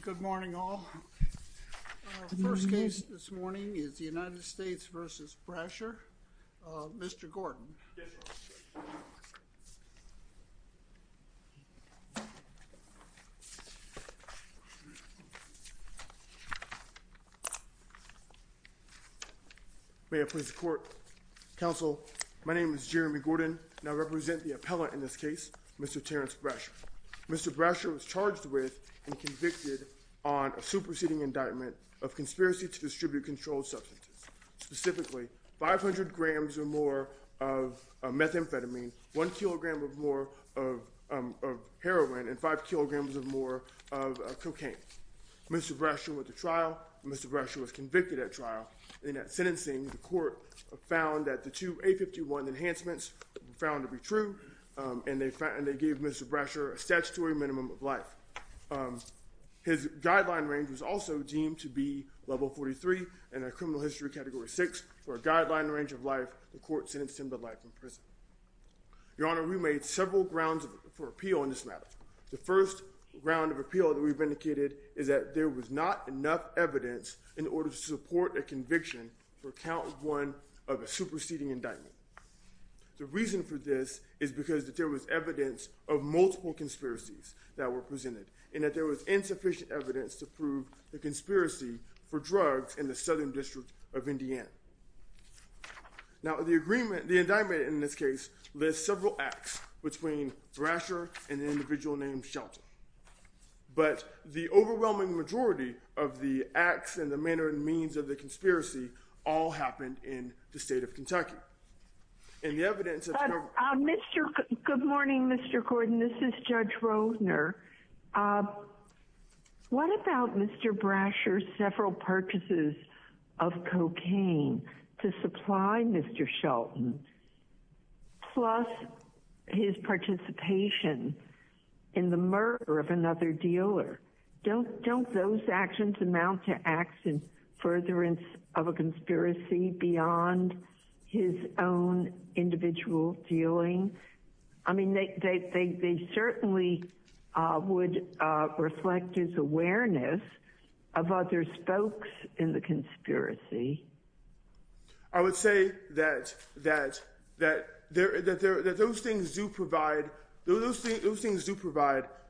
Good morning all, our first case this morning is the United States v. Brasher, Mr. Gordon. My name is Jeremy Gordon and I represent the appellant in this case, Mr. Terrence Brasher. Mr. Brasher was charged with and convicted on a superseding indictment of conspiracy to distribute controlled substances, specifically 500 grams or more of methamphetamine, 1 kilogram or more of heroin, and 5 kilograms or more of cocaine. Mr. Brasher went to trial, Mr. Brasher was convicted at trial, and at sentencing the court found that the two A51 enhancements were found to be true, and they gave Mr. Brasher a statutory minimum of life. His guideline range was also deemed to be level 43 and a criminal history category 6 for a guideline range of life, the court sentenced him to life in prison. Your Honor, we made several grounds for appeal in this matter. The first ground of appeal that we've indicated is that there was not enough evidence in order to support a conviction for count one of a superseding indictment. The reason for this is because there was evidence of multiple conspiracies that were presented and that there was insufficient evidence to prove the conspiracy for drugs in the Southern District of Indiana. Now the agreement, the indictment in this case, lists several acts between Brasher and the individual named Shelton, but the overwhelming majority of the acts and the manner and means of the conspiracy all happened in the state of Kentucky, and the evidence that's covered Mr. Good morning, Mr. Gordon, this is Judge Rosner. What about Mr. Brasher's several purchases of cocaine to supply Mr. Shelton, plus his participation in the murder of another dealer? Don't those actions amount to acts in furtherance of a conspiracy beyond his own individual dealing? I mean, they certainly would reflect his awareness of other spokes in the conspiracy. I would say that those things do provide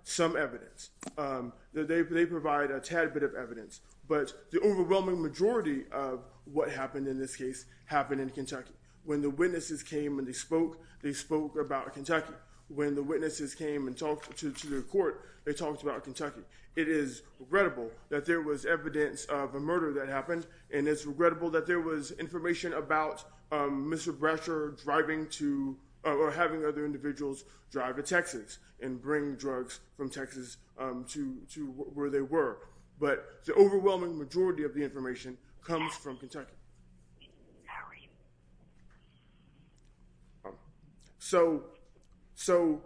some evidence, that they provide a tad bit of evidence, but the overwhelming majority of what happened in this case happened in Kentucky. When the witnesses came and they spoke, they spoke about Kentucky. When the witnesses came and talked to the court, they talked about Kentucky. It is regrettable that there was evidence of a murder that happened, and it's regrettable that there was information about Mr. Brasher driving to, or having other individuals drive to Texas and bring drugs from Texas to where they were. But the overwhelming majority of the information comes from Kentucky. How are you? So,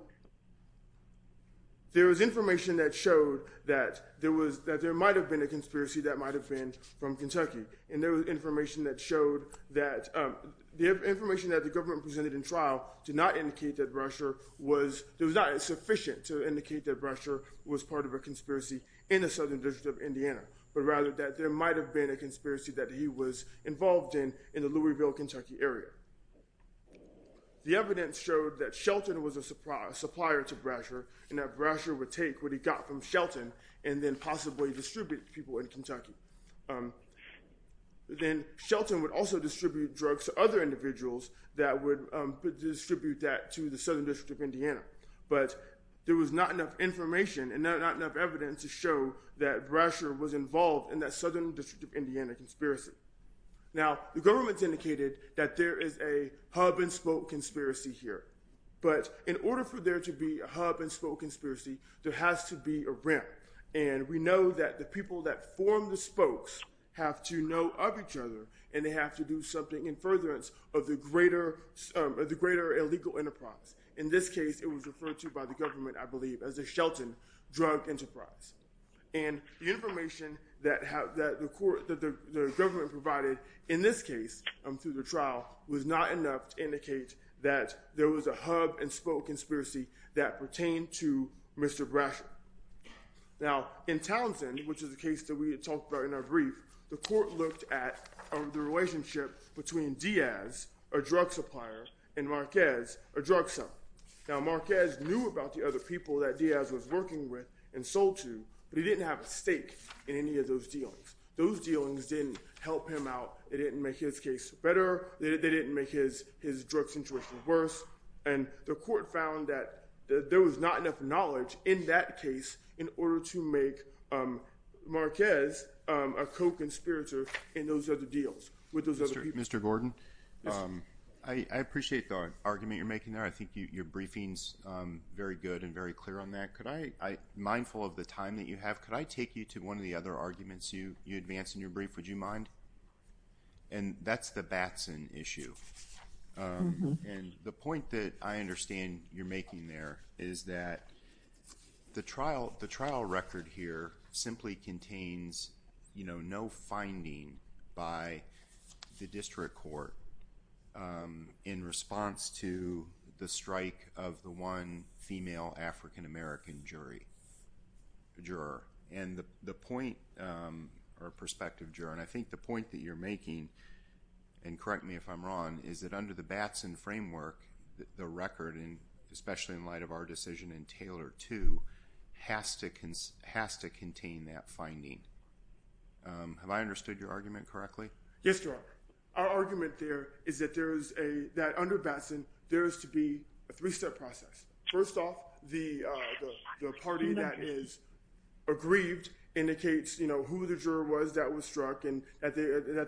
there was information that showed that there might have been a conspiracy that might have been from Kentucky, and there was information that showed that the information that the government presented in trial did not indicate that Brasher was, it was not sufficient to indicate that Brasher was part of a conspiracy in the Southern District of Indiana, but rather that there might have been a conspiracy that he was involved in in the Louisville, Kentucky area. The evidence showed that Shelton was a supplier to Brasher, and that Brasher would take what he got from Shelton and then possibly distribute it to people in Kentucky. Then Shelton would also distribute drugs to other individuals that would distribute that to the Southern District of Indiana, but there was not enough information and not enough evidence to show that Brasher was involved in that Southern District of Indiana conspiracy. Now, the government's indicated that there is a hub-and-spoke conspiracy here, but in order for there to be a hub-and-spoke conspiracy, there has to be a ramp, and we know that the people that form the spokes have to know of each other, and they have to do something in furtherance of the greater illegal enterprise. In this case, it was referred to by the government, I believe, as the Shelton Drug Enterprise, and the information that the government provided in this case through the trial was not enough to indicate that there was a hub-and-spoke conspiracy that pertained to Mr. Brasher. Now, in Townsend, which is the case that we had talked about in our brief, the court looked at the relationship between Diaz, a drug supplier, and Marquez, a drug seller. Now, Marquez knew about the other people that Diaz was working with and sold to, but he didn't have a stake in any of those dealings. Those dealings didn't help him out, they didn't make his case better, they didn't make his drug situation worse, and the court found that there was not enough knowledge in that with those other people. Mr. Gordon, I appreciate the argument you're making there. I think your briefing is very good and very clear on that. Could I, mindful of the time that you have, could I take you to one of the other arguments you advanced in your brief, would you mind? And that's the Batson issue. And the point that I understand you're making there is that the trial record here simply contains no finding by the district court in response to the strike of the one female African-American jury, juror. And the point, or prospective juror, and I think the point that you're making, and correct me if I'm wrong, is that under the Batson framework, the record, especially in light of our decision in Taylor 2, has to contain that finding. Have I understood your argument correctly? Yes, Your Honor. Our argument there is that under Batson, there is to be a three-step process. First off, the party that is aggrieved indicates who the juror was that was struck and that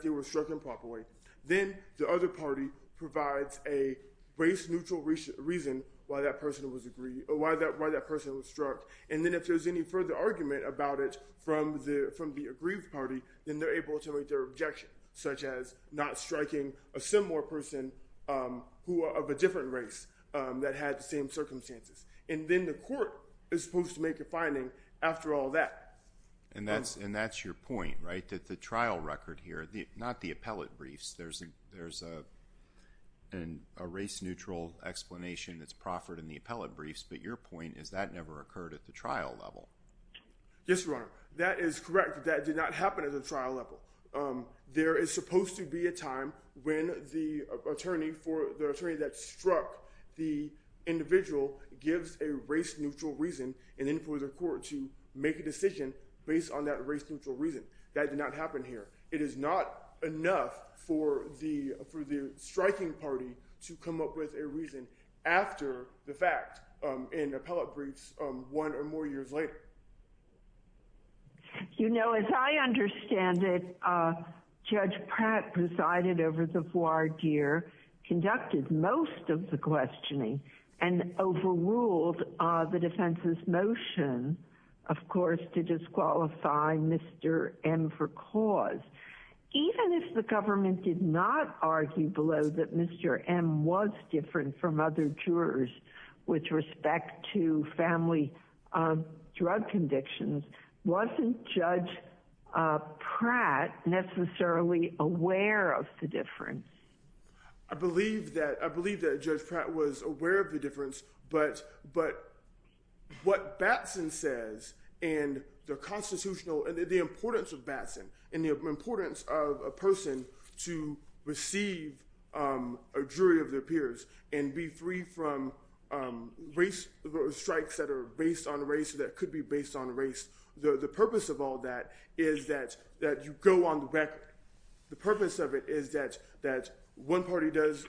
they were struck improperly. Then the other party provides a race-neutral reason why that person was struck. And then if there's any further argument about it from the aggrieved party, then they're able to make their objection, such as not striking a similar person of a different race that had the same circumstances. And then the court is supposed to make a finding after all that. And that's your point, right? That the trial record here, not the appellate briefs, there's a race-neutral explanation that's proffered in the appellate briefs. But your point is that never occurred at the trial level. Yes, Your Honor. That is correct. That did not happen at the trial level. There is supposed to be a time when the attorney that struck the individual gives a race-neutral reason, and then for the court to make a decision based on that race-neutral reason. That did not happen here. It is not enough for the striking party to come up with a reason after the fact in appellate briefs one or more years later. You know, as I understand it, Judge Pratt presided over the voir dire, conducted most of the questioning, and overruled the defense's motion, of course, to disqualify Mr. M for cause. Even if the government did not argue below that Mr. M was different from other jurors with respect to family drug convictions, wasn't Judge Pratt necessarily aware of the difference? I believe that Judge Pratt was aware of the difference. But what Batson says, and the constitutional, and the importance of Batson, and the importance of a person to receive a jury of their peers and be free from strikes that are based on race or that could be based on race, the purpose of all that is that you go on the record. The purpose of it is that one party gives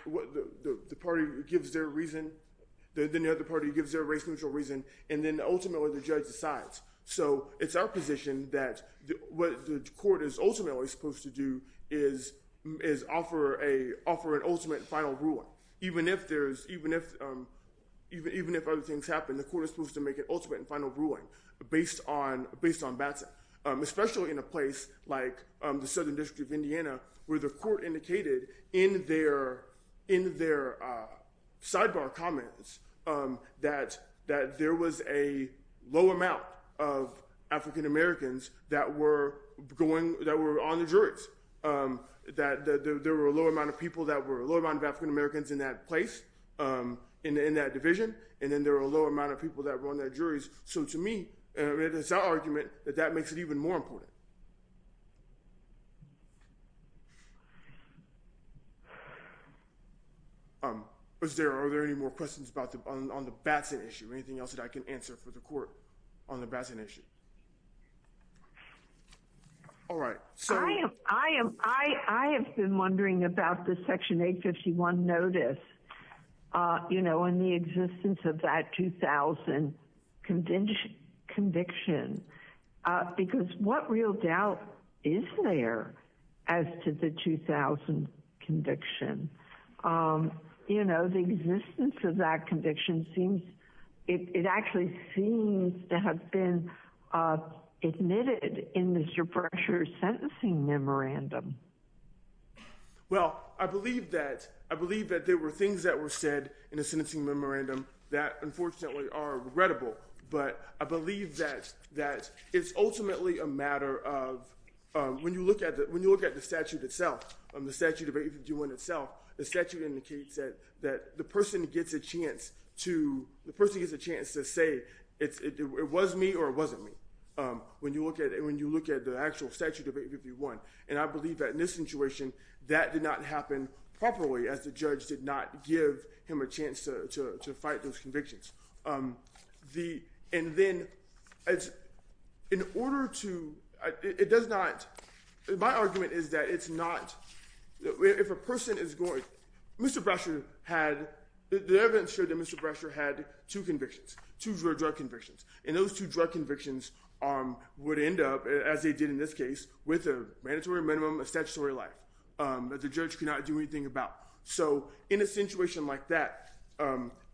their reason, then the other party gives their race-neutral reason, and then ultimately the judge decides. So it's our position that what the court is ultimately supposed to do is offer an ultimate and final ruling. Even if other things happen, the court is supposed to make an ultimate and final ruling based on Batson, especially in a place like the Southern District of Indiana, where the court indicated in their sidebar comments that there was a low amount of African-Americans that were on the juries, that there were a low amount of people that were—a low amount of African-Americans in that place, in that division, and then there were a low amount of people that were on the juries. So to me, it's our argument that that makes it even more important. Are there any more questions on the Batson issue? Anything else that I can answer for the court on the Batson issue? All right. I have been wondering about the Section 851 notice, you know, and the existence of that 2000 conviction, because what real doubt is there as to the 2000 conviction? You know, the existence of that conviction seems—it actually seems to have been admitted in the pressure sentencing memorandum. Well, I believe that there were things that were said in the sentencing memorandum that unfortunately are regrettable, but I believe that it's ultimately a matter of—when you look at the statute itself, the statute of 851 itself, the statute indicates that the person gets a chance to say, it was me or it wasn't me. When you look at the actual statute of 851, and I believe that in this situation, that did not happen properly as the judge did not give him a chance to fight those convictions. And then in order to—it does not—my argument is that it's not—if a person is going—Mr. Brasher had—the evidence showed that Mr. Brasher had two convictions, two drug convictions, and those two drug convictions would end up, as they did in this case, with a mandatory minimum of statutory life that the judge could not do anything about. So in a situation like that, it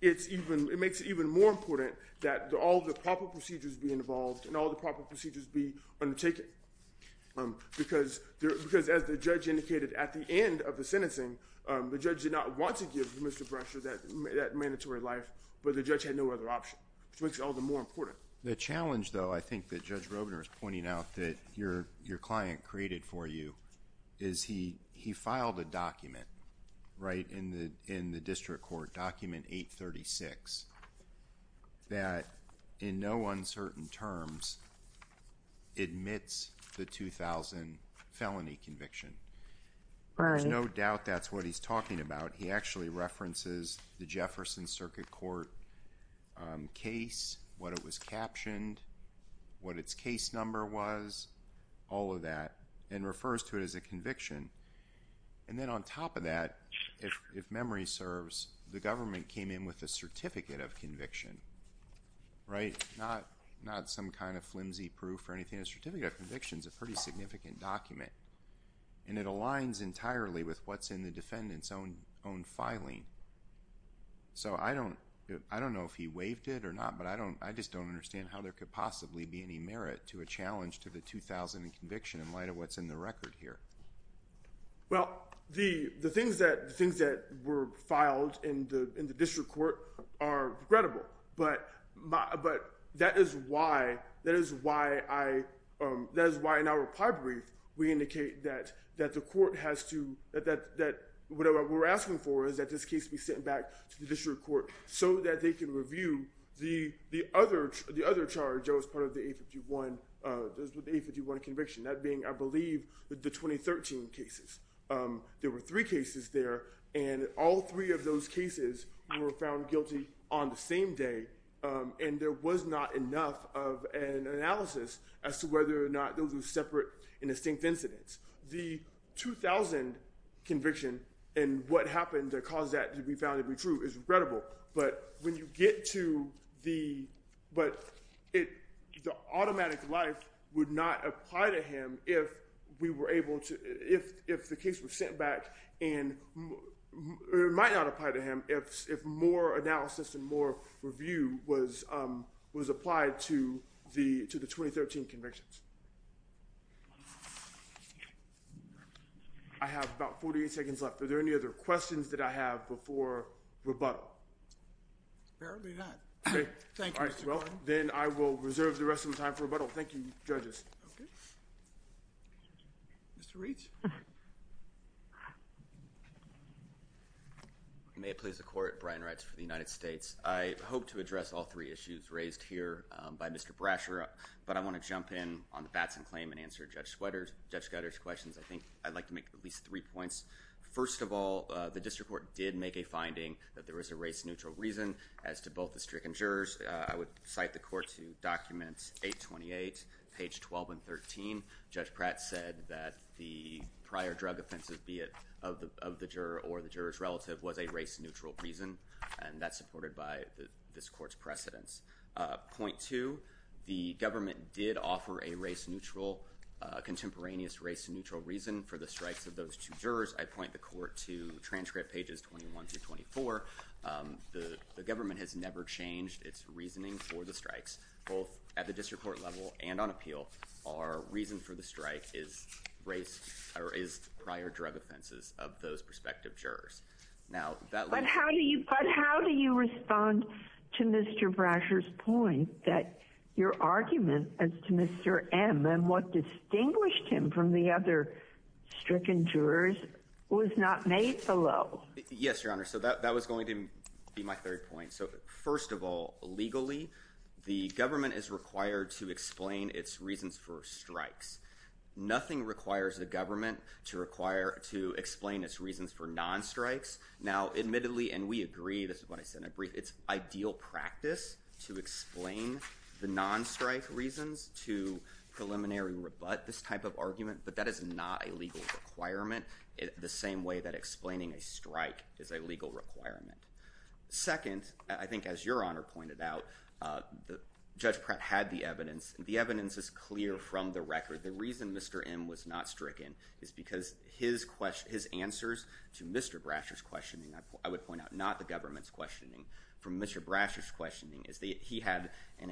makes it even more important that all the proper procedures be involved and all the proper procedures be undertaken, because as the judge indicated at the end of the sentencing, the judge did not want to give Mr. Brasher that mandatory life, but the judge had no other option, which makes it all the more important. The challenge, though, I think that Judge Robner is pointing out that your client created for you is he filed a document, right, in the district court, document 836, that in no uncertain terms admits the 2000 felony conviction. Right. There's no doubt that's what he's talking about. He actually references the Jefferson Circuit Court case, what it was captioned, what its case number was, all of that, and refers to it as a conviction. And then on top of that, if memory serves, the government came in with a certificate of conviction, right, not some kind of flimsy proof or anything. A certificate of conviction is a pretty significant document, and it aligns entirely with what's in the defendant's own filing. So I don't know if he waived it or not, but I just don't understand how there could possibly be any merit to a challenge to the 2000 conviction in light of what's in the record here. Well, the things that were filed in the district court are credible, but that is why in our we're asking for is that this case be sent back to the district court so that they can review the other charge that was part of the 851 conviction, that being, I believe, the 2013 cases. There were three cases there, and all three of those cases were found guilty on the same day, and there was not enough of an analysis as to whether or not those were separate and distinct incidents. The 2000 conviction and what happened that caused that to be found to be true is credible, but when you get to the automatic life would not apply to him if we were able to, if the case was sent back, and it might not apply to him if more analysis and more review was applied to the 2013 convictions. I have about 48 seconds left. Are there any other questions that I have before rebuttal? Apparently not. Thank you, Mr. Klein. Then I will reserve the rest of my time for rebuttal. Thank you, judges. Okay. Mr. Reitz. May it please the Court. Brian Reitz for the United States. I hope to address all three issues raised here by Mr. Brasher, but I want to jump in on the Batson claim and answer Judge Gutter's questions. I think I'd like to make at least three points. First of all, the district court did make a finding that there was a race-neutral reason as to both the strict and jurors. I would cite the court to document 828, page 12 and 13. Judge Pratt said that the prior drug offenses, be it of the juror or the juror's relative, was a race-neutral reason, and that's supported by this court's precedence. Point two, the government did offer a contemporaneous race-neutral reason for the strikes of those two jurors. I'd point the court to transcript pages 21 through 24. The government has never changed its reasoning for the strikes, both at the district court level and on appeal. Our reason for the strike is prior drug offenses of those prospective jurors. But how do you respond to Mr. Brasher's point that your argument as to Mr. M and what distinguished him from the other strict and jurors was not made below? Yes, Your Honor, so that was going to be my third point. First of all, legally, the government is required to explain its reasons for strikes. Nothing requires the government to explain its reasons for non-strikes. Now, admittedly, and we agree, this is what I said in a brief, it's ideal practice to explain the non-strike reasons to preliminary rebut this type of argument, but that is not a legal requirement the same way that explaining a strike is a legal requirement. Second, I think as Your Honor pointed out, Judge Pratt had the evidence, and the evidence is clear from the record. The reason Mr. M was not stricken is because his answers to Mr. Brasher's questioning, I would point out not the government's questioning, from Mr. Brasher's questioning, is that he had an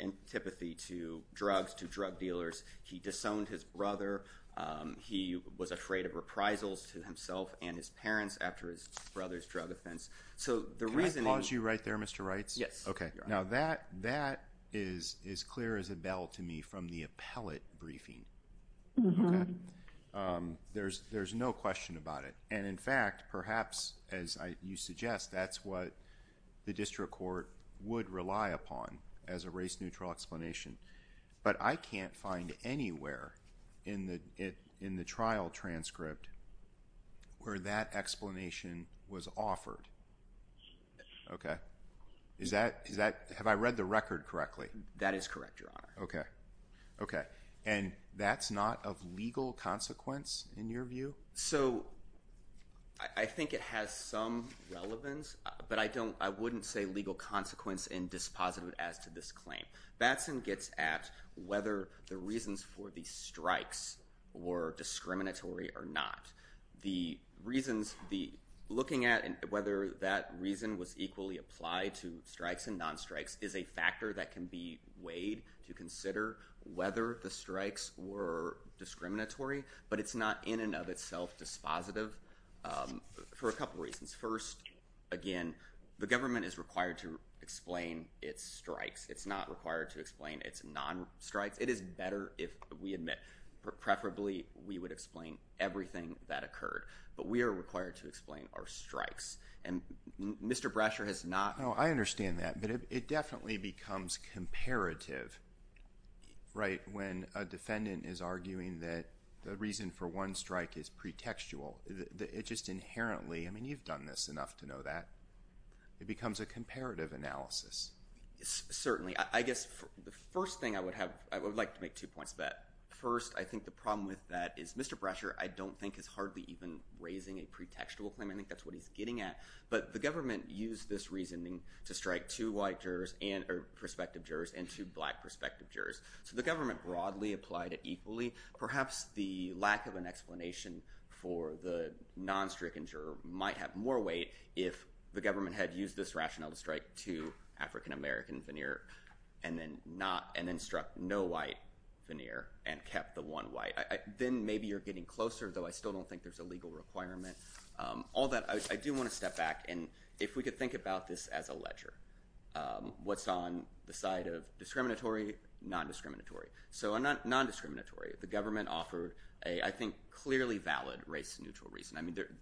antipathy to drugs, to drug dealers. He disowned his brother. He was afraid of reprisals to himself and his parents after his brother's drug offense. Can I pause you right there, Mr. Reitz? Yes, Your Honor. Now, that is clear as a bell to me from the appellate briefing, okay? There's no question about it, and in fact, perhaps, as you suggest, that's what the district court would rely upon as a race-neutral explanation, but I can't find anywhere in the trial transcript where that explanation was offered, okay? Is that, have I read the record correctly? That is correct, Your Honor. Okay, okay. And that's not of legal consequence in your view? So, I think it has some relevance, but I don't, I wouldn't say legal consequence and dispositive as to this claim. Batson gets at whether the reasons for the strikes were discriminatory or not. The reasons, looking at whether that reason was equally applied to strikes and non-strikes is a factor that can be weighed to consider whether the strikes were discriminatory, but it's not in and of itself dispositive for a couple reasons. First, again, the government is required to explain its strikes. It's not required to explain its non-strikes. It is better if we admit, preferably we would explain everything that occurred, but we are required to explain our strikes, and Mr. Brasher has not. No, I understand that, but it definitely becomes comparative, right, when a defendant is arguing that the reason for one strike is pretextual. It just inherently, I mean, you've done this enough to know that. It becomes a comparative analysis. Certainly. I guess the first thing I would have, I would like to make two points of that. First, I think the problem with that is Mr. Brasher, I don't think, is hardly even raising a pretextual claim. I think that's what he's getting at, but the government used this reasoning to strike two white jurors, or prospective jurors, and two black prospective jurors. So the government broadly applied it equally. Perhaps the lack of an explanation for the non-stricken juror might have more weight if the government had used this rationale to strike two African-American veneer and then struck no white veneer and kept the one white. Then maybe you're getting closer, though I still don't think there's a legal requirement. All that, I do want to step back, and if we could think about this as a ledger. What's on the side of discriminatory, non-discriminatory. So non-discriminatory, the government offered a, I think, clearly valid race-neutral reason.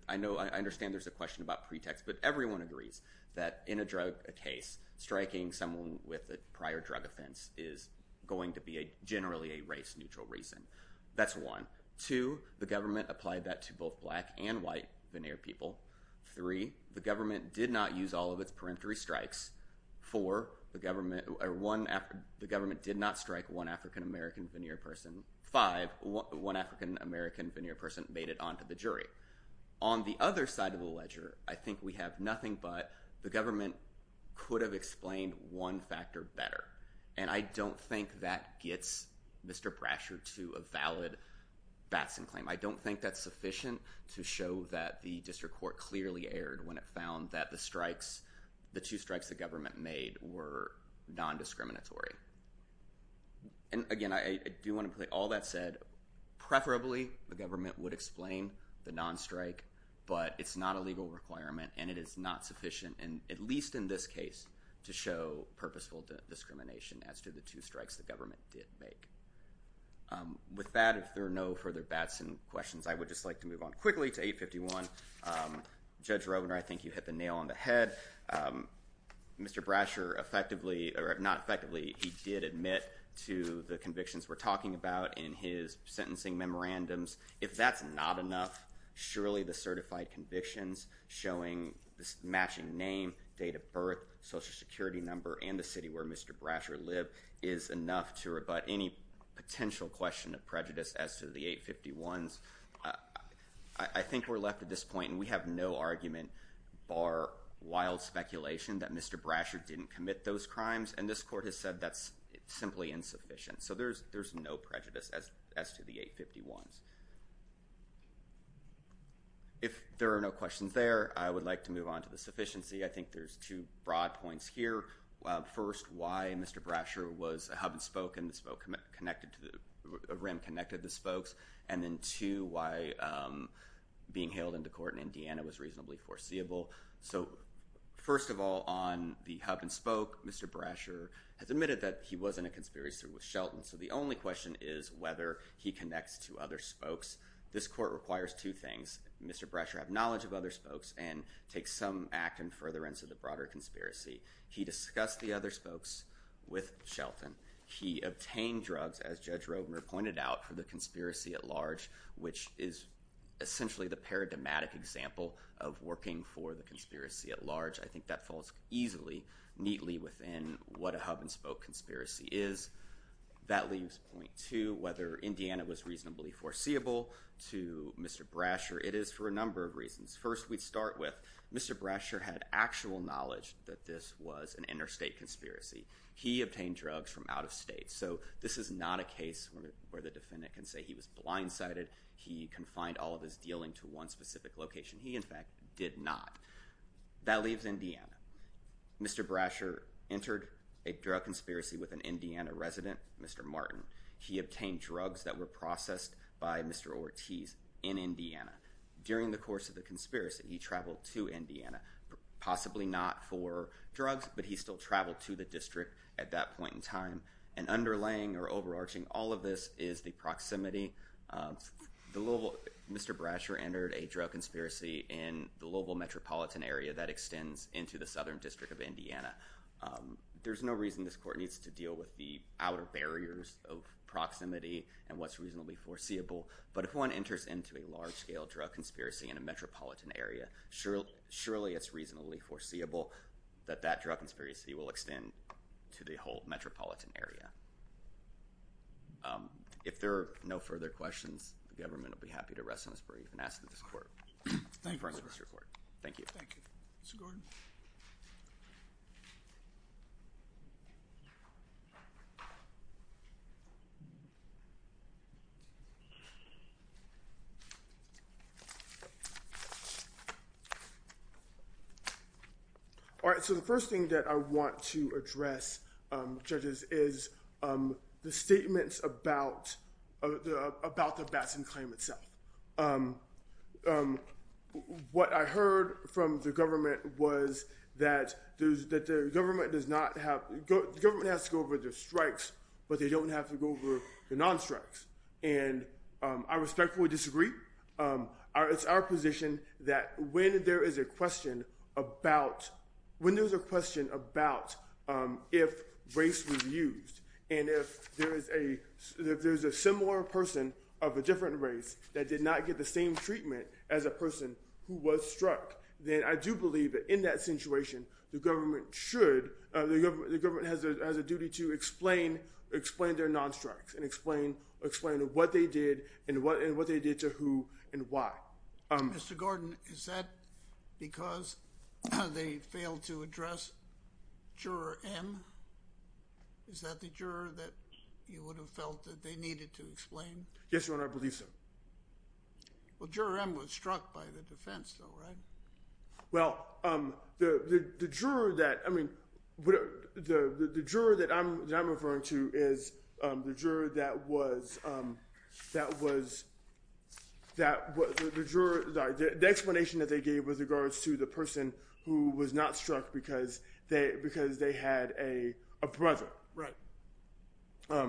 I understand there's a question about pretext, but everyone agrees that in a drug case, striking someone with a prior drug offense is going to be generally a race-neutral reason. That's one. Two, the government applied that to both black and white veneer people. Three, the government did not use all of its peremptory strikes. Four, the government did not strike one African-American veneer person. Five, one African-American veneer person made it onto the jury. On the other side of the ledger, I think we have nothing but the government could have explained one factor better. And I don't think that gets Mr. Brasher to a valid Batson claim. I don't think that's sufficient to show that the district court clearly erred when it found that the strikes, the two strikes the government made were non-discriminatory. And again, I do want to put all that said. Preferably, the government would explain the non-strike, but it's not a legal requirement and it is not sufficient, at least in this case, to show purposeful discrimination as to the two strikes the government did make. With that, if there are no further Batson questions, I would just like to move on quickly to 851. Judge Robner, I think you hit the nail on the head. Mr. Brasher effectively, or not effectively, he did admit to the convictions we're talking about in his sentencing memorandums. If that's not enough, surely the certified convictions showing matching name, date of birth, Social Security number, and the city where Mr. Brasher lived is enough to rebut any potential question of prejudice as to the 851s. I think we're left at this point and we have no argument bar wild speculation that Mr. Brasher didn't commit those crimes and this court has said that's simply insufficient. So, there's no prejudice as to the 851s. If there are no questions there, I would like to move on to the sufficiency. I think there's two broad points here. First, why Mr. Brasher was a hub and spoke and a rim connected to the spokes. And then two, why being hailed into court in Indiana was reasonably foreseeable. So, first of all, on the hub and spoke, Mr. Brasher has admitted that he was in a conspiracy with Shelton. So, the only question is whether he connects to other spokes. This court requires two things. Mr. Brasher have knowledge of other spokes and take some act in furtherance of the broader conspiracy. He discussed the other spokes with Shelton. He obtained drugs, as Judge Rovner pointed out, for the conspiracy at large, which is essentially the paradigmatic example of working for the conspiracy at large. I think that falls easily, neatly within what a hub and spoke conspiracy is. That leaves point two, whether Indiana was reasonably foreseeable to Mr. Brasher. It is for a number of reasons. First, we start with Mr. Brasher had actual knowledge that this was an interstate conspiracy. He obtained drugs from out of state. So, this is not a case where the defendant can say he was blindsided. He confined all of his dealing to one specific location. He, in fact, did not. That leaves Indiana. Mr. Brasher entered a drug conspiracy with an Indiana resident, Mr. Martin. He obtained drugs that were processed by Mr. Ortiz in Indiana. During the course of the conspiracy, he traveled to Indiana, possibly not for drugs, but he still traveled to the district at that point in time. Underlaying or overarching all of this is the proximity. Mr. Brasher entered a drug conspiracy in the local metropolitan area that extends into the southern district of Indiana. There's no reason this court needs to deal with the outer barriers of proximity and what's reasonably foreseeable. But, if one enters into a large-scale drug conspiracy in a metropolitan area, surely it's reasonably foreseeable that that drug conspiracy will extend to the whole metropolitan area. If there are no further questions, the government will be happy to rest on its brief and ask that this court confirm this report. Thank you. Thank you. Mr. Gordon. All right. So, the first thing that I want to address, judges, is the statements about the Batson claim itself. What I heard from the government was that the government has to go over their strikes, but they don't have to go over the non-strikes. And I respectfully disagree. It's our position that when there's a question about if race was used and if there's a similar person of a different race that did not get the same treatment as a person who was struck, then I do believe that in that situation, the government has a duty to explain their and why. Mr. Gordon, is that because they failed to address Juror M? Is that the juror that you would have felt that they needed to explain? Yes, Your Honor. I believe so. Well, Juror M was struck by the defense, though, right? Well, the juror that I'm referring to is the juror that was—the explanation that they gave with regards to the person who was not struck because they had a brother. Right. A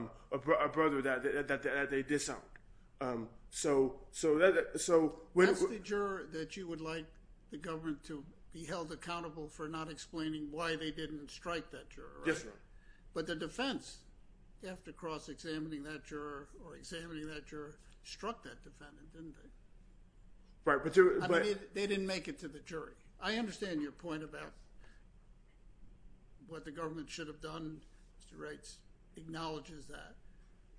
brother that they disowned. So— That's the juror that you would like the government to be held accountable for not explaining why they didn't strike that juror, right? Yes, Your Honor. But the defense, after cross-examining that juror or examining that juror, struck that defendant, didn't they? Right, but— I mean, they didn't make it to the jury. I understand your point about what the government should have done. Mr. Reitz acknowledges that.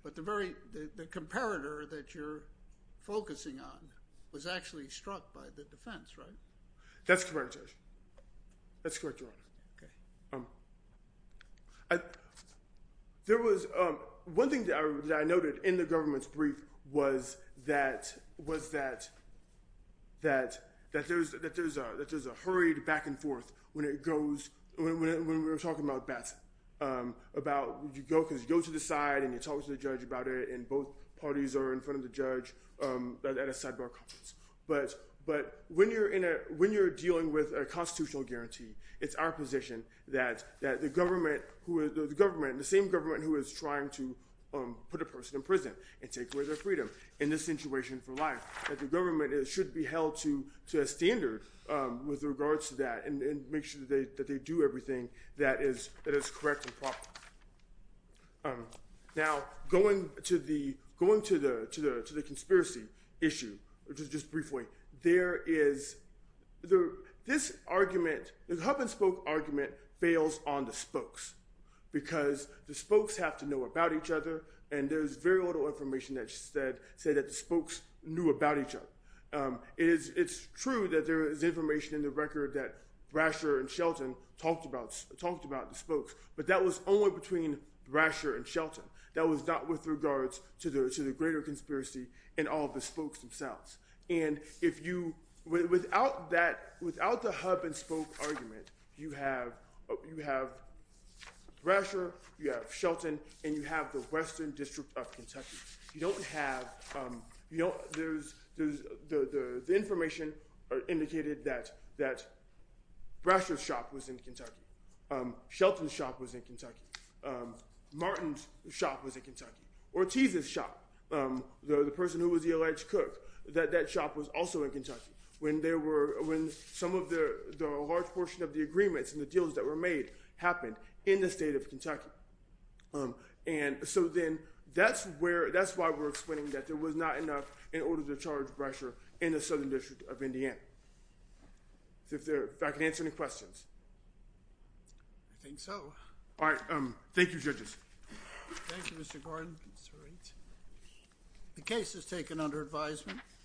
But the very—the comparator that you're focusing on was actually struck by the defense, right? That's correct, Your Honor. That's correct, Your Honor. Okay. There was—one thing that I noted in the government's brief was that—was that—that there's a—that there's a hurried back and forth when it goes—when we were talking about Beth, about you go—because you go to the side and you talk to the judge about it, and both parties are in front of the judge at a sidebar conference. But—but when you're in a—when you're dealing with a constitutional guarantee, it's our position that—that the government who—the government—the same government who is trying to put a person in prison and take away their freedom in this situation for life, that the government should be held to—to a standard with regards to that and make sure that they—that they do everything that is—that is correct and proper. Now, going to the—going to the—to the conspiracy issue, just briefly, there is—this argument—the hub and spoke argument fails on the spokes because the spokes have to know about each other, and there's very little information that said—said that the spokes knew about each other. It is—it's true that there is information in the record that Brasher and Shelton talked about—talked about the spokes, but that was only between Brasher and Shelton. That was not with regards to the—to the greater conspiracy and all of the spokes themselves. And if you—without that—without the hub and spoke argument, you have—you have Brasher, you have Shelton, and you have the Western District of Kentucky. You don't have—you don't—there's—there's—the information indicated that—that Brasher's shop was in Kentucky, Shelton's shop was in Kentucky, Martin's shop was in Kentucky, Ortiz's shop, the person who was the alleged cook, that that shop was also in Kentucky when there were—when some of the large portion of the agreements and the deals that were made happened in the state of Kentucky. And so then, that's where—that's why we're explaining that there was not enough in order to charge Brasher in the Southern District of Indiana. If there—if I can answer any questions. I think so. All right. Thank you, judges. Thank you, Mr. Gordon. That's all right. The case is taken under advisement.